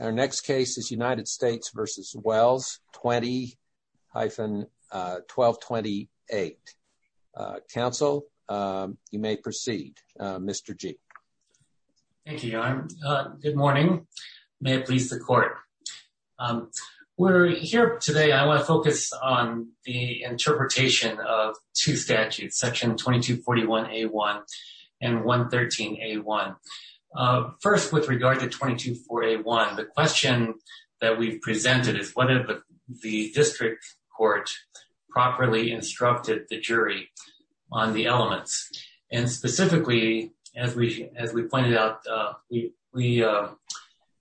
Our next case is United States v. Wells 20-1228. Counsel, you may proceed, Mr. G. Thank you, Your Honor. Good morning. May it please the court. We're here today, I want to focus on the interpretation of two statutes, section 2241A1 and 113A1. First, with regard to 2241A1, the question that we've presented is whether the district court properly instructed the jury on the elements. And specifically, as we pointed out, we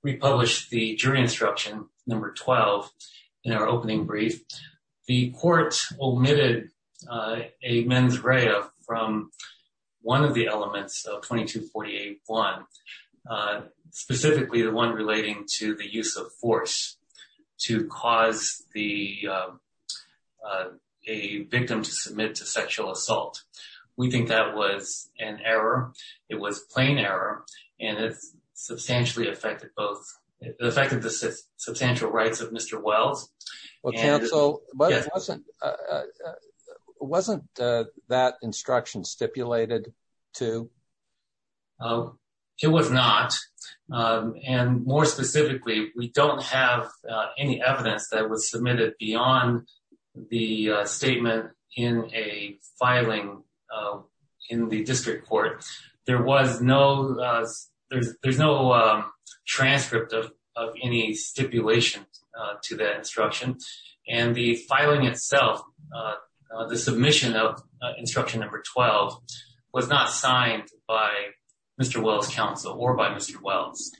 republished the jury instruction number 12 in our opening brief. The court omitted a mens rea from one of the elements of 2248A1, specifically the one relating to the use of force to cause a victim to submit to sexual assault. We think that was an error. It was plain error, and it substantially affected the substantial rights of Mr. Wells. Counsel, wasn't that instruction stipulated, too? It was not, and more specifically, we don't have any evidence that was submitted beyond the statement in a filing in the district court. There was no transcript of any stipulation to that instruction, and the filing itself, the submission of instruction number 12, was not signed by Mr. Wells' counsel or by Mr. Wells.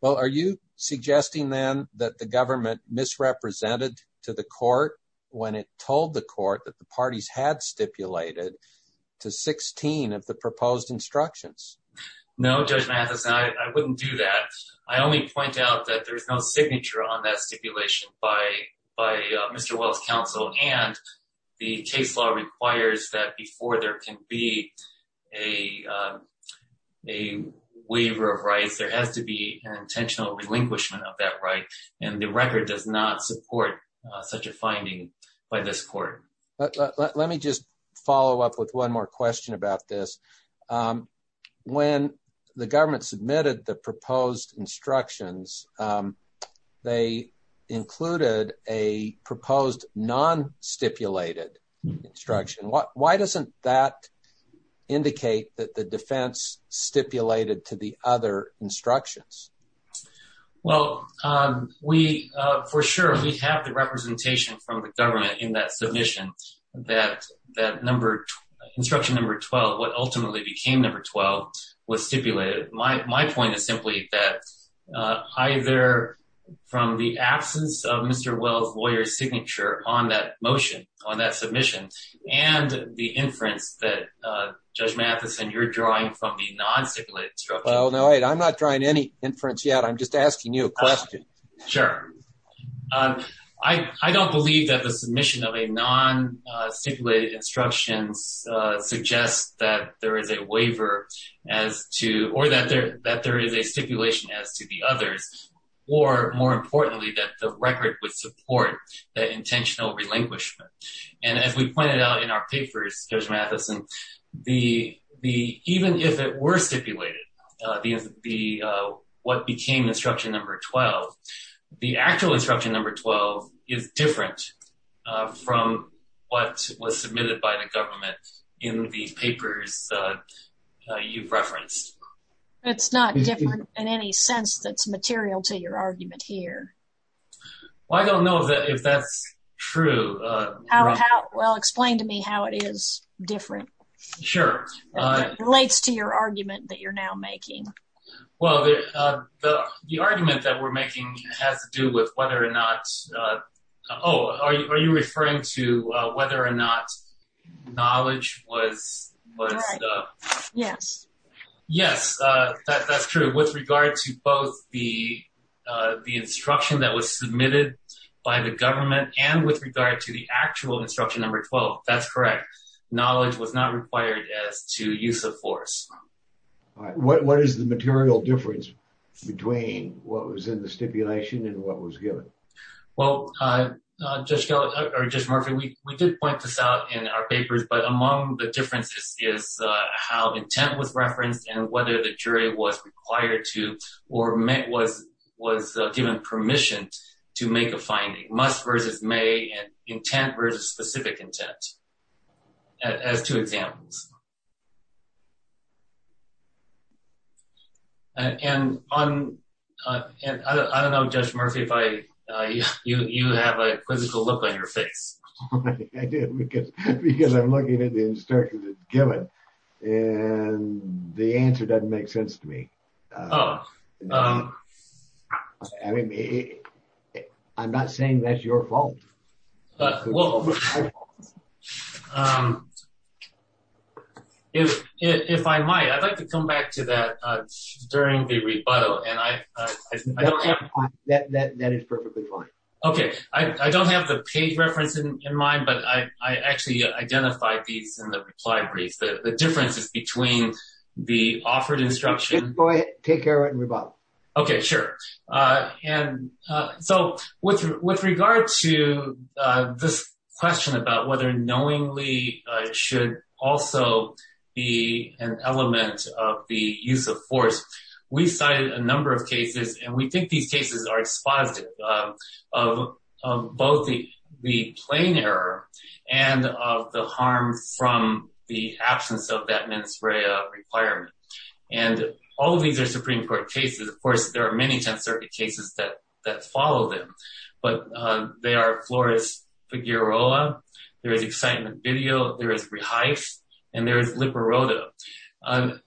Well, are you suggesting, then, that the government misrepresented to the court when it told the court that the parties had stipulated to 16 of the proposed instructions? No, Judge Mathison, I wouldn't do that. I only point out that there's no signature on that stipulation by Mr. Wells' counsel, and the case law requires that before there can be a waiver of rights, there has to be an intentional relinquishment of that right, and the record does not support such a finding by this court. Let me just follow up with one more question about this. When the government submitted the proposed instructions, they included a proposed non-stipulated instruction. Why doesn't that indicate that the defense stipulated to the other instructions? Well, for sure, we have the representation from the government in that submission that instruction number 12, what ultimately became number 12, was stipulated. My point is simply that either from the absence of Mr. Wells' lawyer's signature on that motion, on that submission, and the inference that, Judge Mathison, you're drawing from the non-stipulated instruction. Well, no, I'm not drawing any inference yet. I'm just asking you a question. Sure. I don't believe that the submission of a non-stipulated instruction suggests that there is a waiver, or that there is a stipulation as to the others, or more importantly, that the record would support the intentional relinquishment. And as we pointed out in our papers, Judge Mathison, even if it were stipulated, what became instruction number 12, the actual instruction number 12 is different from what was submitted by the government in the papers you've referenced. It's not different in any sense that's material to your argument here. Well, I don't know if that's true. Well, explain to me how it is different. Sure. Relates to your argument that you're now making. Well, the argument that we're making has to do with whether or not, oh, are you referring to whether or not knowledge was... Right. Yes. Yes, that's true. With regard to both the instruction that was submitted by the government and with regard to the actual instruction number 12, that's correct. Knowledge was not required as to use of force. What is the material difference between what was in the stipulation and what was given? Well, Judge Murphy, we did point this out in our papers, but among the differences is how intent was referenced and whether the jury was required to or was given permission to make a finding. Must versus may and intent versus specific intent as two examples. And I don't know, Judge Murphy, if you have a quizzical look on your face. I did because I'm looking at the instruction given and the answer doesn't make sense to me. I'm not saying that's your fault. Well, if I might, I'd like to come back to that during the rebuttal and I don't have... That is perfectly fine. Okay. I don't have the page reference in mind, but I actually identified these in the reply brief. The difference is between the offered instruction... Go ahead. Take care of it and rebuttal. Okay, sure. And so with regard to this question about whether knowingly should also be an element of the use of force, we cited a number of cases. And we think these cases are exposit of both the plain error and of the harm from the absence of that mens rea requirement. And all of these are Supreme Court cases. Of course, there are many ten circuit cases that follow them. But they are Flores-Figueroa, there is Excitement Video, there is ReHIFE, and there is Liparoto.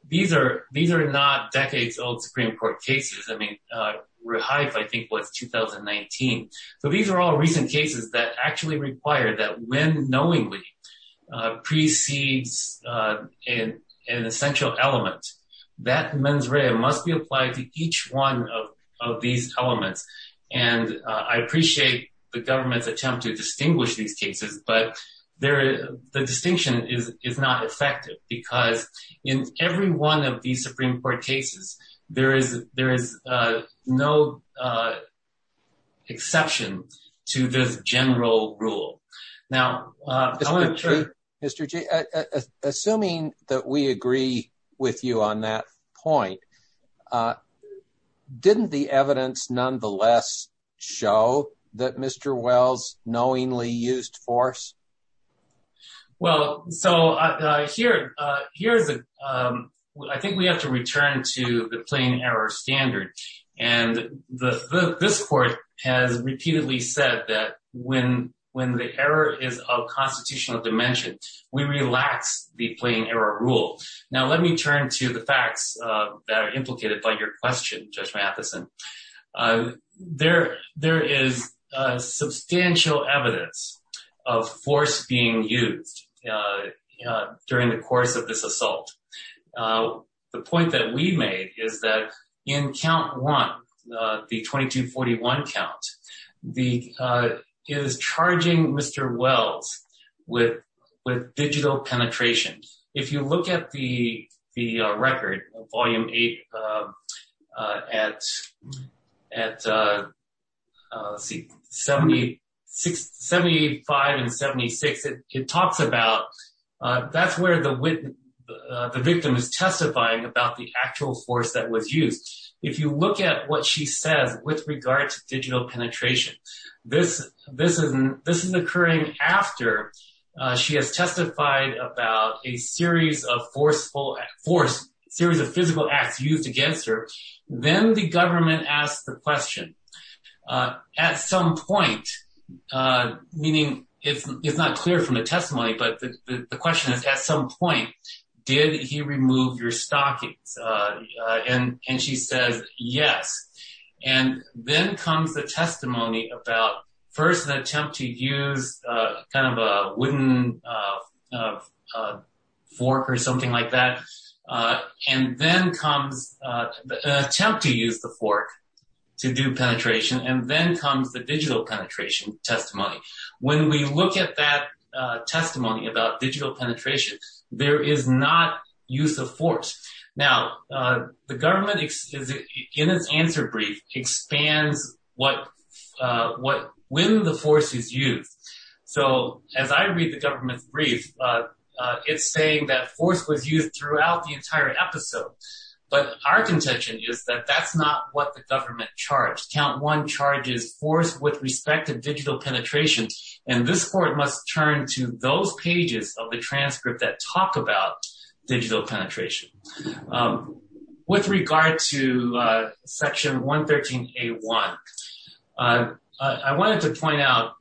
These are not decades old Supreme Court cases. I mean, ReHIFE, I think, was 2019. So these are all recent cases that actually require that when knowingly precedes an essential element, that mens rea must be applied to each one of these elements. And I appreciate the government's attempt to distinguish these cases, but the distinction is not effective because in every one of these Supreme Court cases, there is no exception to this general rule. Assuming that we agree with you on that point, didn't the evidence nonetheless show that Mr. Wells knowingly used force? Well, so here, I think we have to return to the plain error standard. And this court has repeatedly said that when the error is of constitutional dimension, we relax the plain error rule. Now, let me turn to the facts that are implicated by your question, Judge Matheson. There is substantial evidence of force being used during the course of this assault. The point that we made is that in count one, the 2241 count, is charging Mr. Wells with digital penetration. If you look at the record, Volume 8, at 75 and 76, it talks about that's where the victim is testifying about the actual force that was used. If you look at what she says with regard to digital penetration, this is occurring after she has testified about a series of physical acts used against her. Then the government asks the question, at some point, meaning it's not clear from the testimony, but the question is, at some point, did he remove your stockings? And she says, yes. And then comes the testimony about first an attempt to use kind of a wooden fork or something like that. And then comes the attempt to use the fork to do penetration. And then comes the digital penetration testimony. When we look at that testimony about digital penetration, there is not use of force. Now, the government, in its answer brief, expands when the force is used. So as I read the government's brief, it's saying that force was used throughout the entire episode. But our contention is that that's not what the government charged. Count one charges force with respect to digital penetration. And this court must turn to those pages of the transcript that talk about digital penetration. With regard to section 113A1, I wanted to point out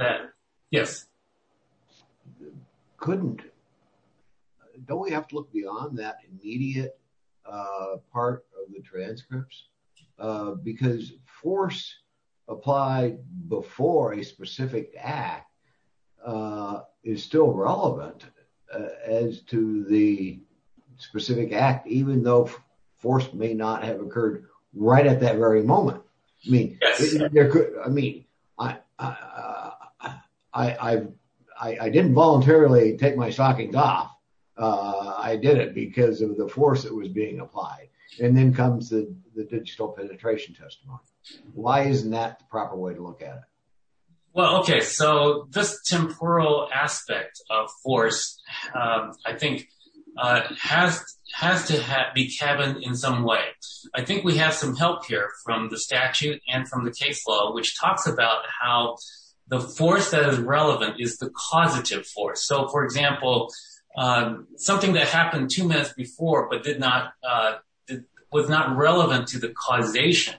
that, yes. Couldn't. Don't we have to look beyond that immediate part of the transcripts? Because force applied before a specific act is still relevant as to the specific act, even though force may not have occurred right at that very moment. I mean, I didn't voluntarily take my stockings off. I did it because of the force that was being applied. And then comes the digital penetration testimony. Why isn't that the proper way to look at it? Well, OK, so this temporal aspect of force, I think, has to be cabined in some way. I think we have some help here from the statute and from the case law, which talks about how the force that is relevant is the causative force. So, for example, something that happened two minutes before but did not was not relevant to the causation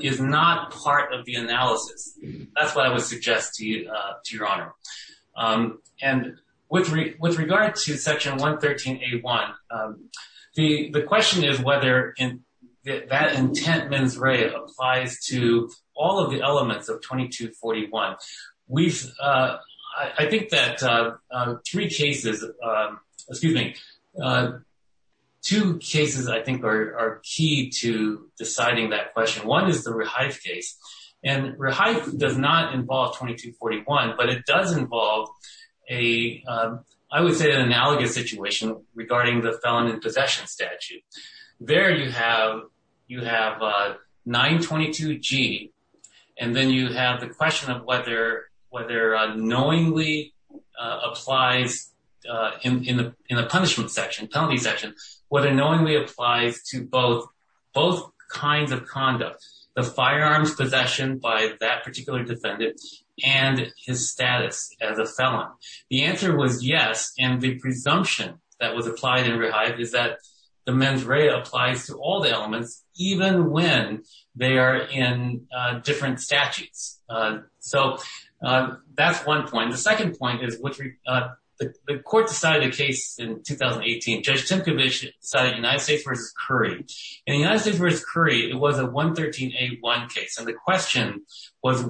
is not part of the analysis. That's what I would suggest to you, to your honor. And with regard to section 113A1, the question is whether that intent mens rea applies to all of the elements of 2241. I think that three cases, excuse me, two cases, I think, are key to deciding that question. One is the Rehife case. And Rehife does not involve 2241, but it does involve a, I would say, an analogous situation regarding the felon in possession statute. There you have 922G, and then you have the question of whether knowingly applies in the punishment section, penalty section, whether knowingly applies to both kinds of conduct, the firearms possession by that particular defendant and his status as a felon. The answer was yes, and the presumption that was applied in Rehife is that the mens rea applies to all the elements, even when they are in different statutes. So that's one point. The second point is the court decided a case in 2018. Judge Tymkiewicz decided United States v. Curry. In the United States v. Curry, it was a 113A1 case. And the question was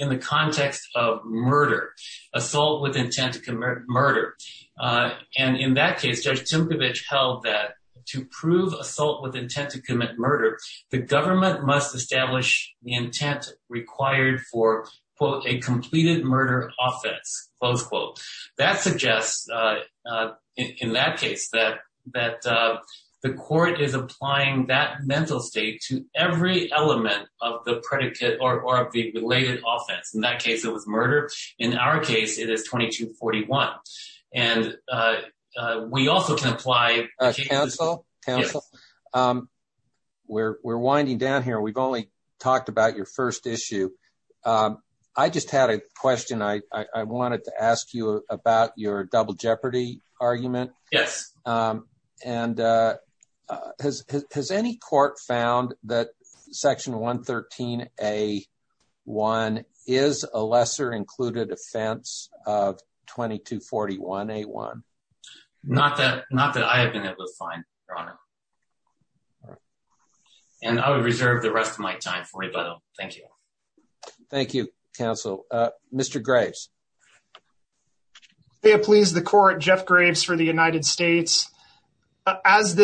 in the context of murder, assault with intent to commit murder. And in that case, Judge Tymkiewicz held that to prove assault with intent to commit murder, the government must establish the intent required for, quote, a completed murder offense, close quote. So that suggests, in that case, that the court is applying that mental state to every element of the predicate or of the related offense. In that case, it was murder. In our case, it is 2241. And we also can apply… Counsel, we're winding down here. We've only talked about your first issue. I just had a question. I wanted to ask you about your double jeopardy argument. Yes. And has any court found that Section 113A1 is a lesser included offense of 2241A1? Not that I have been able to find, Your Honor. And I would reserve the rest of my time for you, by the way. Thank you. Thank you, Counsel. Mr. Graves. May it please the court, Jeff Graves for the United States. As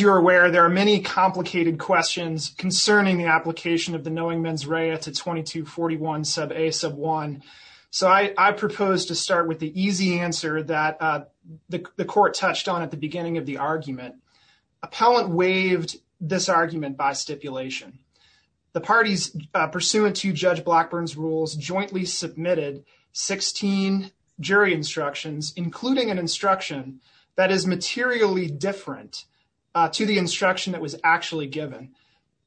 you're aware, there are many complicated questions concerning the application of the knowing mens rea to 2241A1. So I propose to start with the easy answer that the court touched on at the beginning of the argument. Appellant waived this argument by stipulation. The parties pursuant to Judge Blackburn's rules jointly submitted 16 jury instructions, including an instruction that is materially different to the instruction that was actually given.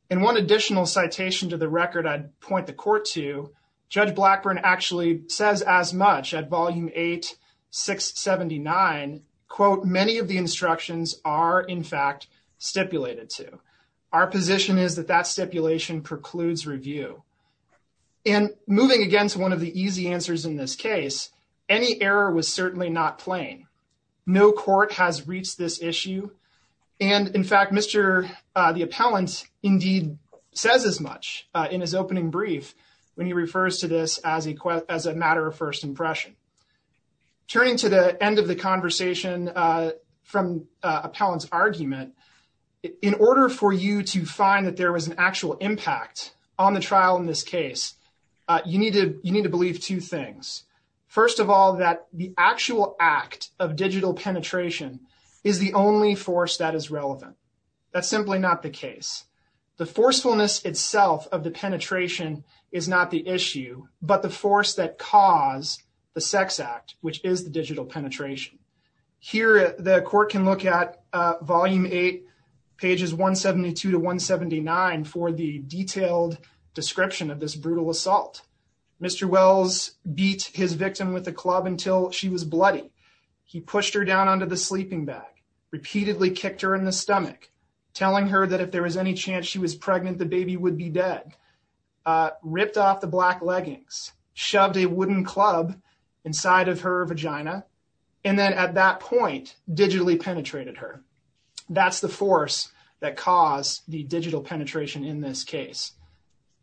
In one additional citation to the record I'd point the court to, Judge Blackburn actually says as much at Volume 8, 679, quote, many of the instructions are in fact stipulated to. Our position is that that stipulation precludes review. And moving again to one of the easy answers in this case, any error was certainly not plain. No court has reached this issue. And in fact, Mr. the appellant indeed says as much in his opening brief when he refers to this as a matter of first impression. Turning to the end of the conversation from appellant's argument, in order for you to find that there was an actual impact on the trial in this case, you need to you need to believe two things. First of all, that the actual act of digital penetration is the only force that is relevant. That's simply not the case. The forcefulness itself of the penetration is not the issue, but the force that caused the sex act, which is the digital penetration. Here the court can look at Volume 8, pages 172 to 179 for the detailed description of this brutal assault. Mr. Wells beat his victim with a club until she was bloody. He pushed her down onto the sleeping bag, repeatedly kicked her in the stomach, telling her that if there was any chance she was pregnant, the baby would be dead. Ripped off the black leggings, shoved a wooden club inside of her vagina, and then at that point digitally penetrated her. That's the force that caused the digital penetration in this case.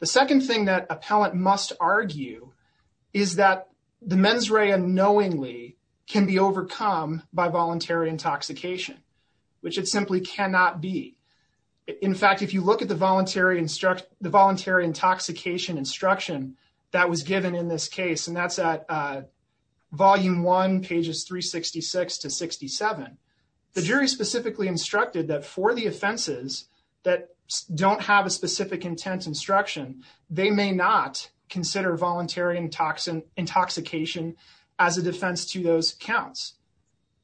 The second thing that appellant must argue is that the mens rea knowingly can be overcome by voluntary intoxication, which it simply cannot be. In fact, if you look at the voluntary instruction, the voluntary intoxication instruction that was given in this case, and that's at Volume 1, pages 366 to 67, the jury specifically instructed that for the offenses that don't have a specific intent instruction, they may not consider voluntary intoxication as a defense to those counts.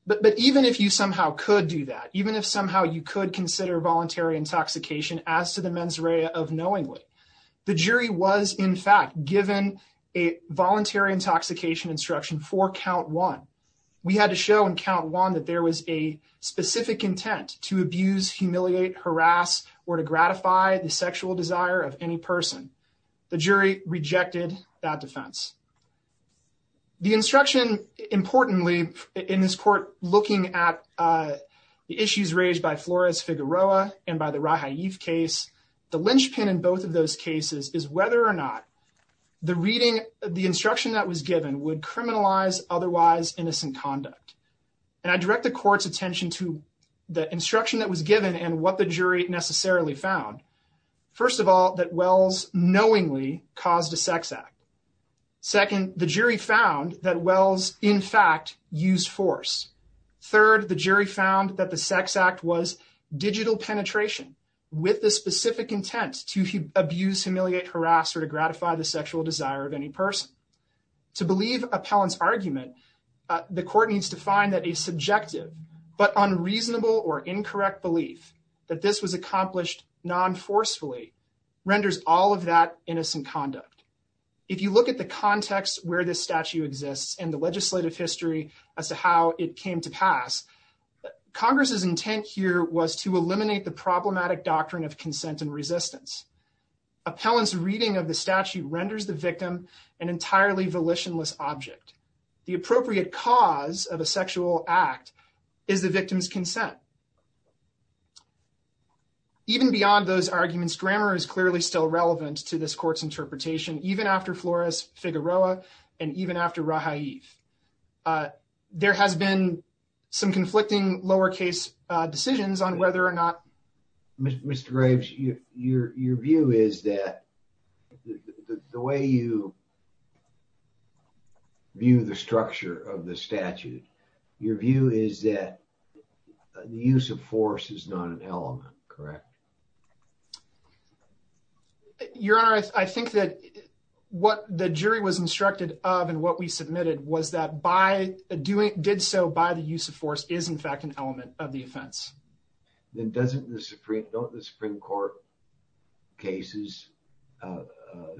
But even if you somehow could do that, even if somehow you could consider voluntary intoxication as to the mens rea of knowingly, the jury was, in fact, given a voluntary intoxication instruction for Count 1. We had to show in Count 1 that there was a specific intent to abuse, humiliate, harass, or to gratify the sexual desire of any person. The jury rejected that defense. The instruction, importantly, in this court looking at the issues raised by Flores-Figueroa and by the Raja Yeef case, the linchpin in both of those cases is whether or not the reading of the instruction that was given would criminalize otherwise innocent conduct. And I direct the court's attention to the instruction that was given and what the jury necessarily found. First of all, that Wells knowingly caused a sex act. Second, the jury found that Wells, in fact, used force. Third, the jury found that the sex act was digital penetration with the specific intent to abuse, humiliate, harass, or to gratify the sexual desire of any person. To believe Appellant's argument, the court needs to find that a subjective but unreasonable or incorrect belief that this was accomplished non-forcefully renders all of that innocent conduct. If you look at the context where this statute exists and the legislative history as to how it came to pass, Congress's intent here was to eliminate the problematic doctrine of consent and resistance. Appellant's reading of the statute renders the victim an entirely volitionless object. The appropriate cause of a sexual act is the victim's consent. Even beyond those arguments, grammar is clearly still relevant to this court's interpretation, even after Flores-Figueroa and even after Raja Yeef. There has been some conflicting lowercase decisions on whether or not... Your view is that the way you view the structure of the statute, your view is that the use of force is not an element, correct? Your Honor, I think that what the jury was instructed of and what we submitted was that by doing... did so by the use of force is, in fact, an element of the offense. Then doesn't the Supreme... don't the Supreme Court cases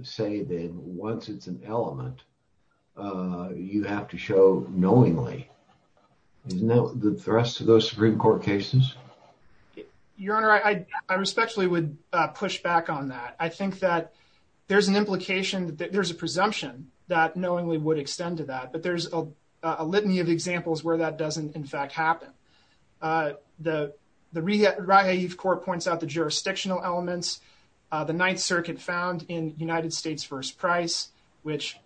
say that once it's an element, you have to show knowingly? Isn't that the thrust of those Supreme Court cases? Your Honor, I respectfully would push back on that. I think that there's an implication that there's a presumption that knowingly would extend to that, but there's a litany of examples where that doesn't, in fact, happen. The Raja Yeef Court points out the jurisdictional elements. The Ninth Circuit found in United States v. Price, which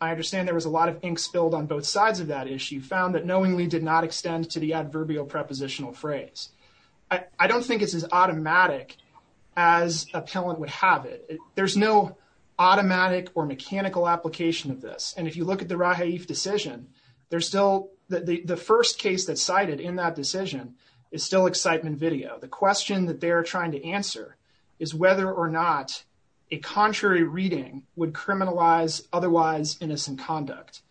I understand there was a lot of ink spilled on both sides of that issue, found that knowingly did not extend to the adverbial prepositional phrase. I don't think it's as automatic as appellant would have it. There's no automatic or mechanical application of this. And if you look at the Raja Yeef decision, there's still... the first case that's cited in that decision is still excitement video. The question that they're trying to answer is whether or not a contrary reading would criminalize otherwise innocent conduct.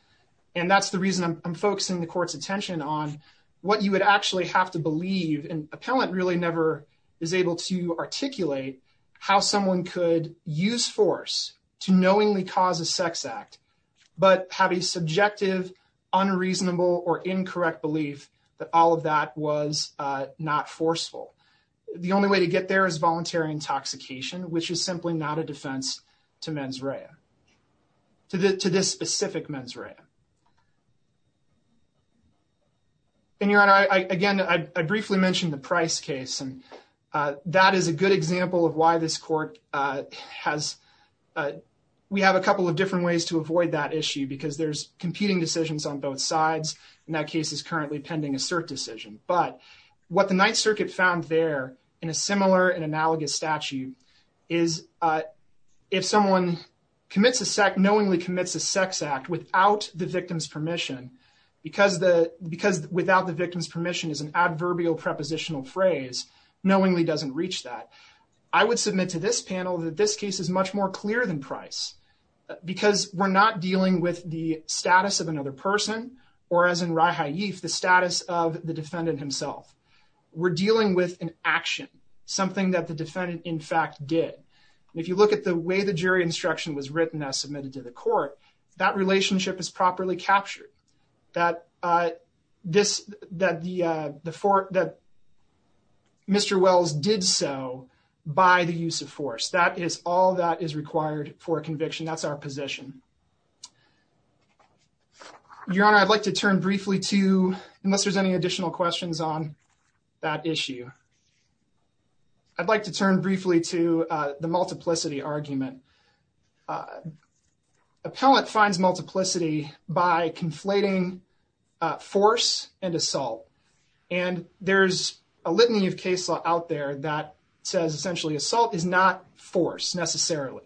And that's the reason I'm focusing the court's attention on what you would actually have to believe. And appellant really never is able to articulate how someone could use force to knowingly cause a sex act, but have a subjective, unreasonable, or incorrect belief that all of that was not forceful. The only way to get there is voluntary intoxication, which is simply not a defense to mens rea. To this specific mens rea. And Your Honor, again, I briefly mentioned the Price case. And that is a good example of why this court has... we have a couple of different ways to avoid that issue because there's competing decisions on both sides. And that case is currently pending a cert decision. But what the Ninth Circuit found there in a similar and analogous statute is if someone commits a... knowingly commits a sex act without the victim's permission, because without the victim's permission is an adverbial prepositional phrase, knowingly doesn't reach that. I would submit to this panel that this case is much more clear than Price. Because we're not dealing with the status of another person, or as in Rai Ha-Yif, the status of the defendant himself. We're dealing with an action. Something that the defendant, in fact, did. And if you look at the way the jury instruction was written as submitted to the court, that relationship is properly captured. That Mr. Wells did so by the use of force. That is all that is required for a conviction. That's our position. Your Honor, I'd like to turn briefly to... unless there's any additional questions on that issue. I'd like to turn briefly to the multiplicity argument. Appellant finds multiplicity by conflating force and assault. And there's a litany of case law out there that says essentially assault is not force necessarily.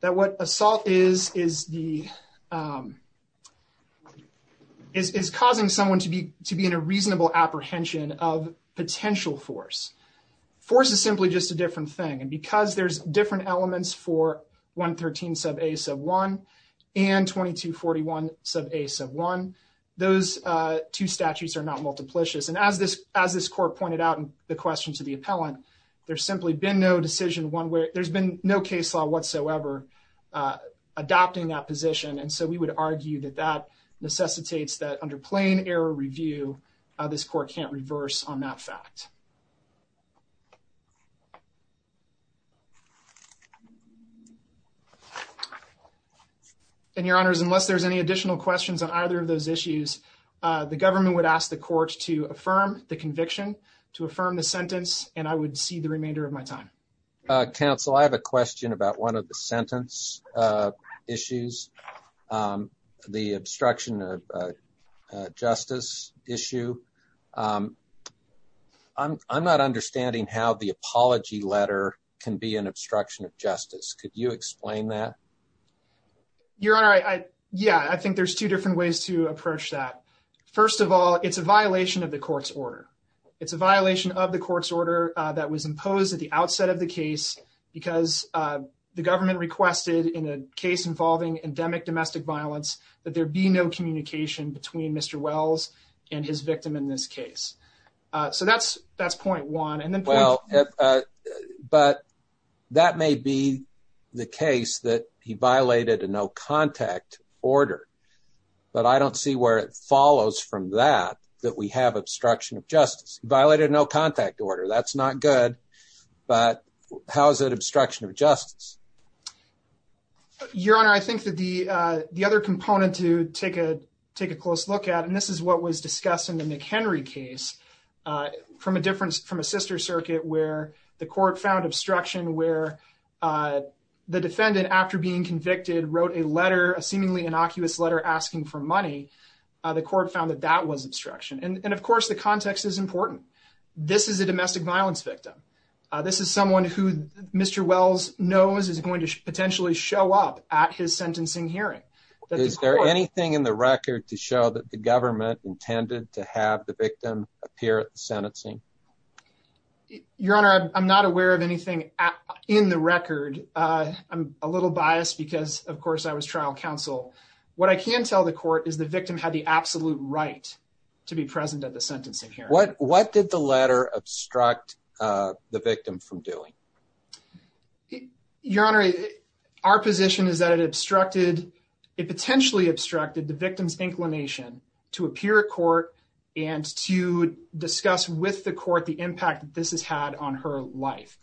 That what assault is, is causing someone to be in a reasonable apprehension of potential force. Force is simply just a different thing. And because there's different elements for 113 sub a sub 1 and 2241 sub a sub 1, those two statutes are not multiplicious. And as this as this court pointed out in the question to the appellant, there's simply been no decision one way. There's been no case law whatsoever adopting that position. And so we would argue that that necessitates that under plain error review, this court can't reverse on that fact. And your honors, unless there's any additional questions on either of those issues, the government would ask the court to affirm the conviction to affirm the sentence. And I would see the remainder of my time. Counsel, I have a question about one of the sentence issues, the obstruction of justice issue. I'm not understanding how the apology letter can be an obstruction of justice. Could you explain that? Your honor. Yeah, I think there's two different ways to approach that. First of all, it's a violation of the court's order. It's a violation of the court's order that was imposed at the outset of the case because the government requested in a case involving endemic domestic violence that there be no communication between Mr. Wells and his victim in this case. So that's that's point one. Well, but that may be the case that he violated a no contact order. But I don't see where it follows from that, that we have obstruction of justice violated, no contact order. That's not good. Your honor, I think that the the other component to take a take a close look at. And this is what was discussed in the McHenry case from a difference from a sister circuit where the court found obstruction, where the defendant, after being convicted, wrote a letter, a seemingly innocuous letter asking for money. The court found that that was obstruction. And of course, the context is important. This is a domestic violence victim. This is someone who Mr. Wells knows is going to potentially show up at his sentencing hearing. Is there anything in the record to show that the government intended to have the victim appear at the sentencing? Your honor, I'm not aware of anything in the record. I'm a little biased because, of course, I was trial counsel. What I can tell the court is the victim had the absolute right to be present at the sentencing here. What what did the letter obstruct the victim from doing? Your honor, our position is that it obstructed it potentially obstructed the victim's inclination to appear at court and to discuss with the court the impact this has had on her life.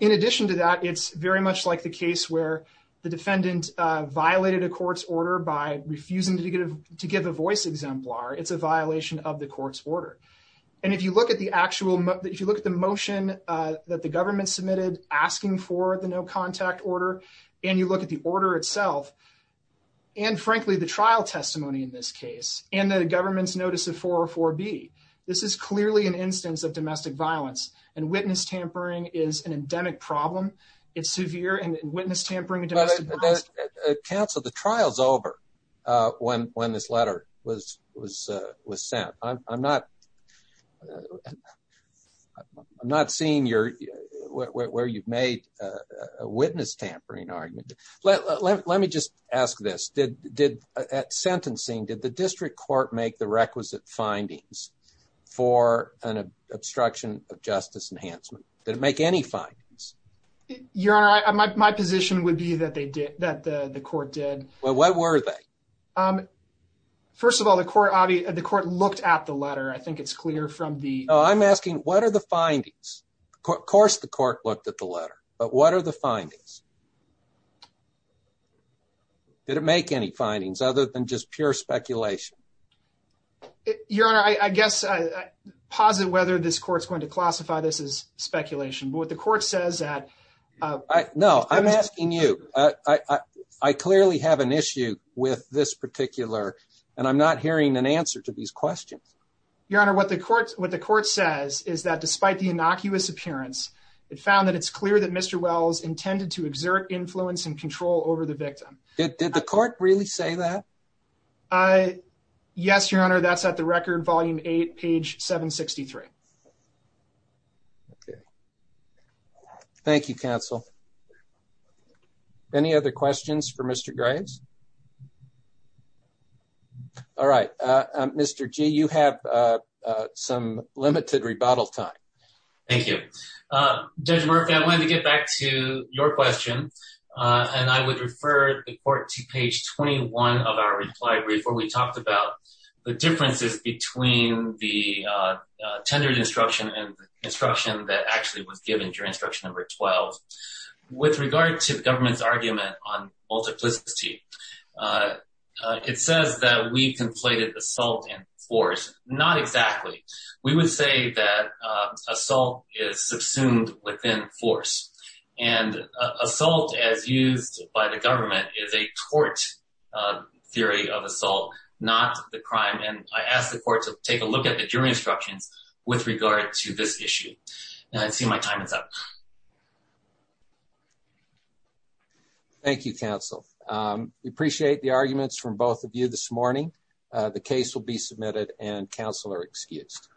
In addition to that, it's very much like the case where the defendant violated a court's order by refusing to give to give a voice exemplar. It's a violation of the court's order. And if you look at the actual if you look at the motion that the government submitted asking for the no contact order and you look at the order itself. And frankly, the trial testimony in this case and the government's notice of four or four B, this is clearly an instance of domestic violence and witness tampering is an endemic problem. It's severe and witness tampering. Counsel, the trial's over when when this letter was was was sent. I'm not I'm not seeing your where you've made a witness tampering argument. Let me just ask this. At sentencing, did the district court make the requisite findings for an obstruction of justice enhancement? Did it make any findings? Your honor, my position would be that they did that the court did. Well, what were they? First of all, the court, the court looked at the letter. I think it's clear from the. I'm asking what are the findings? Of course, the court looked at the letter. But what are the findings? Did it make any findings other than just pure speculation? Your honor, I guess I posit whether this court's going to classify this as speculation. But what the court says that I know I'm asking you, I clearly have an issue with this particular and I'm not hearing an answer to these questions. Your honor, what the court what the court says is that despite the innocuous appearance, it found that it's clear that Mr. Wells intended to exert influence and control over the victim. Did the court really say that? Yes, your honor. That's at the record. Volume eight, page 763. Thank you, counsel. Any other questions for Mr. Graves? All right. Mr. G, you have some limited rebuttal time. Thank you. Judge Murphy, I wanted to get back to your question. And I would refer the court to page 21 of our reply brief where we talked about the differences between the tendered instruction and instruction that actually was given during instruction number 12. With regard to the government's argument on multiplicity, it says that we conflated assault and force. Not exactly. We would say that assault is subsumed within force. And assault, as used by the government, is a tort theory of assault, not the crime. And I ask the court to take a look at the jury instructions with regard to this issue. And I see my time is up. Thank you, counsel. We appreciate the arguments from both of you this morning. The case will be submitted and counsel are excused.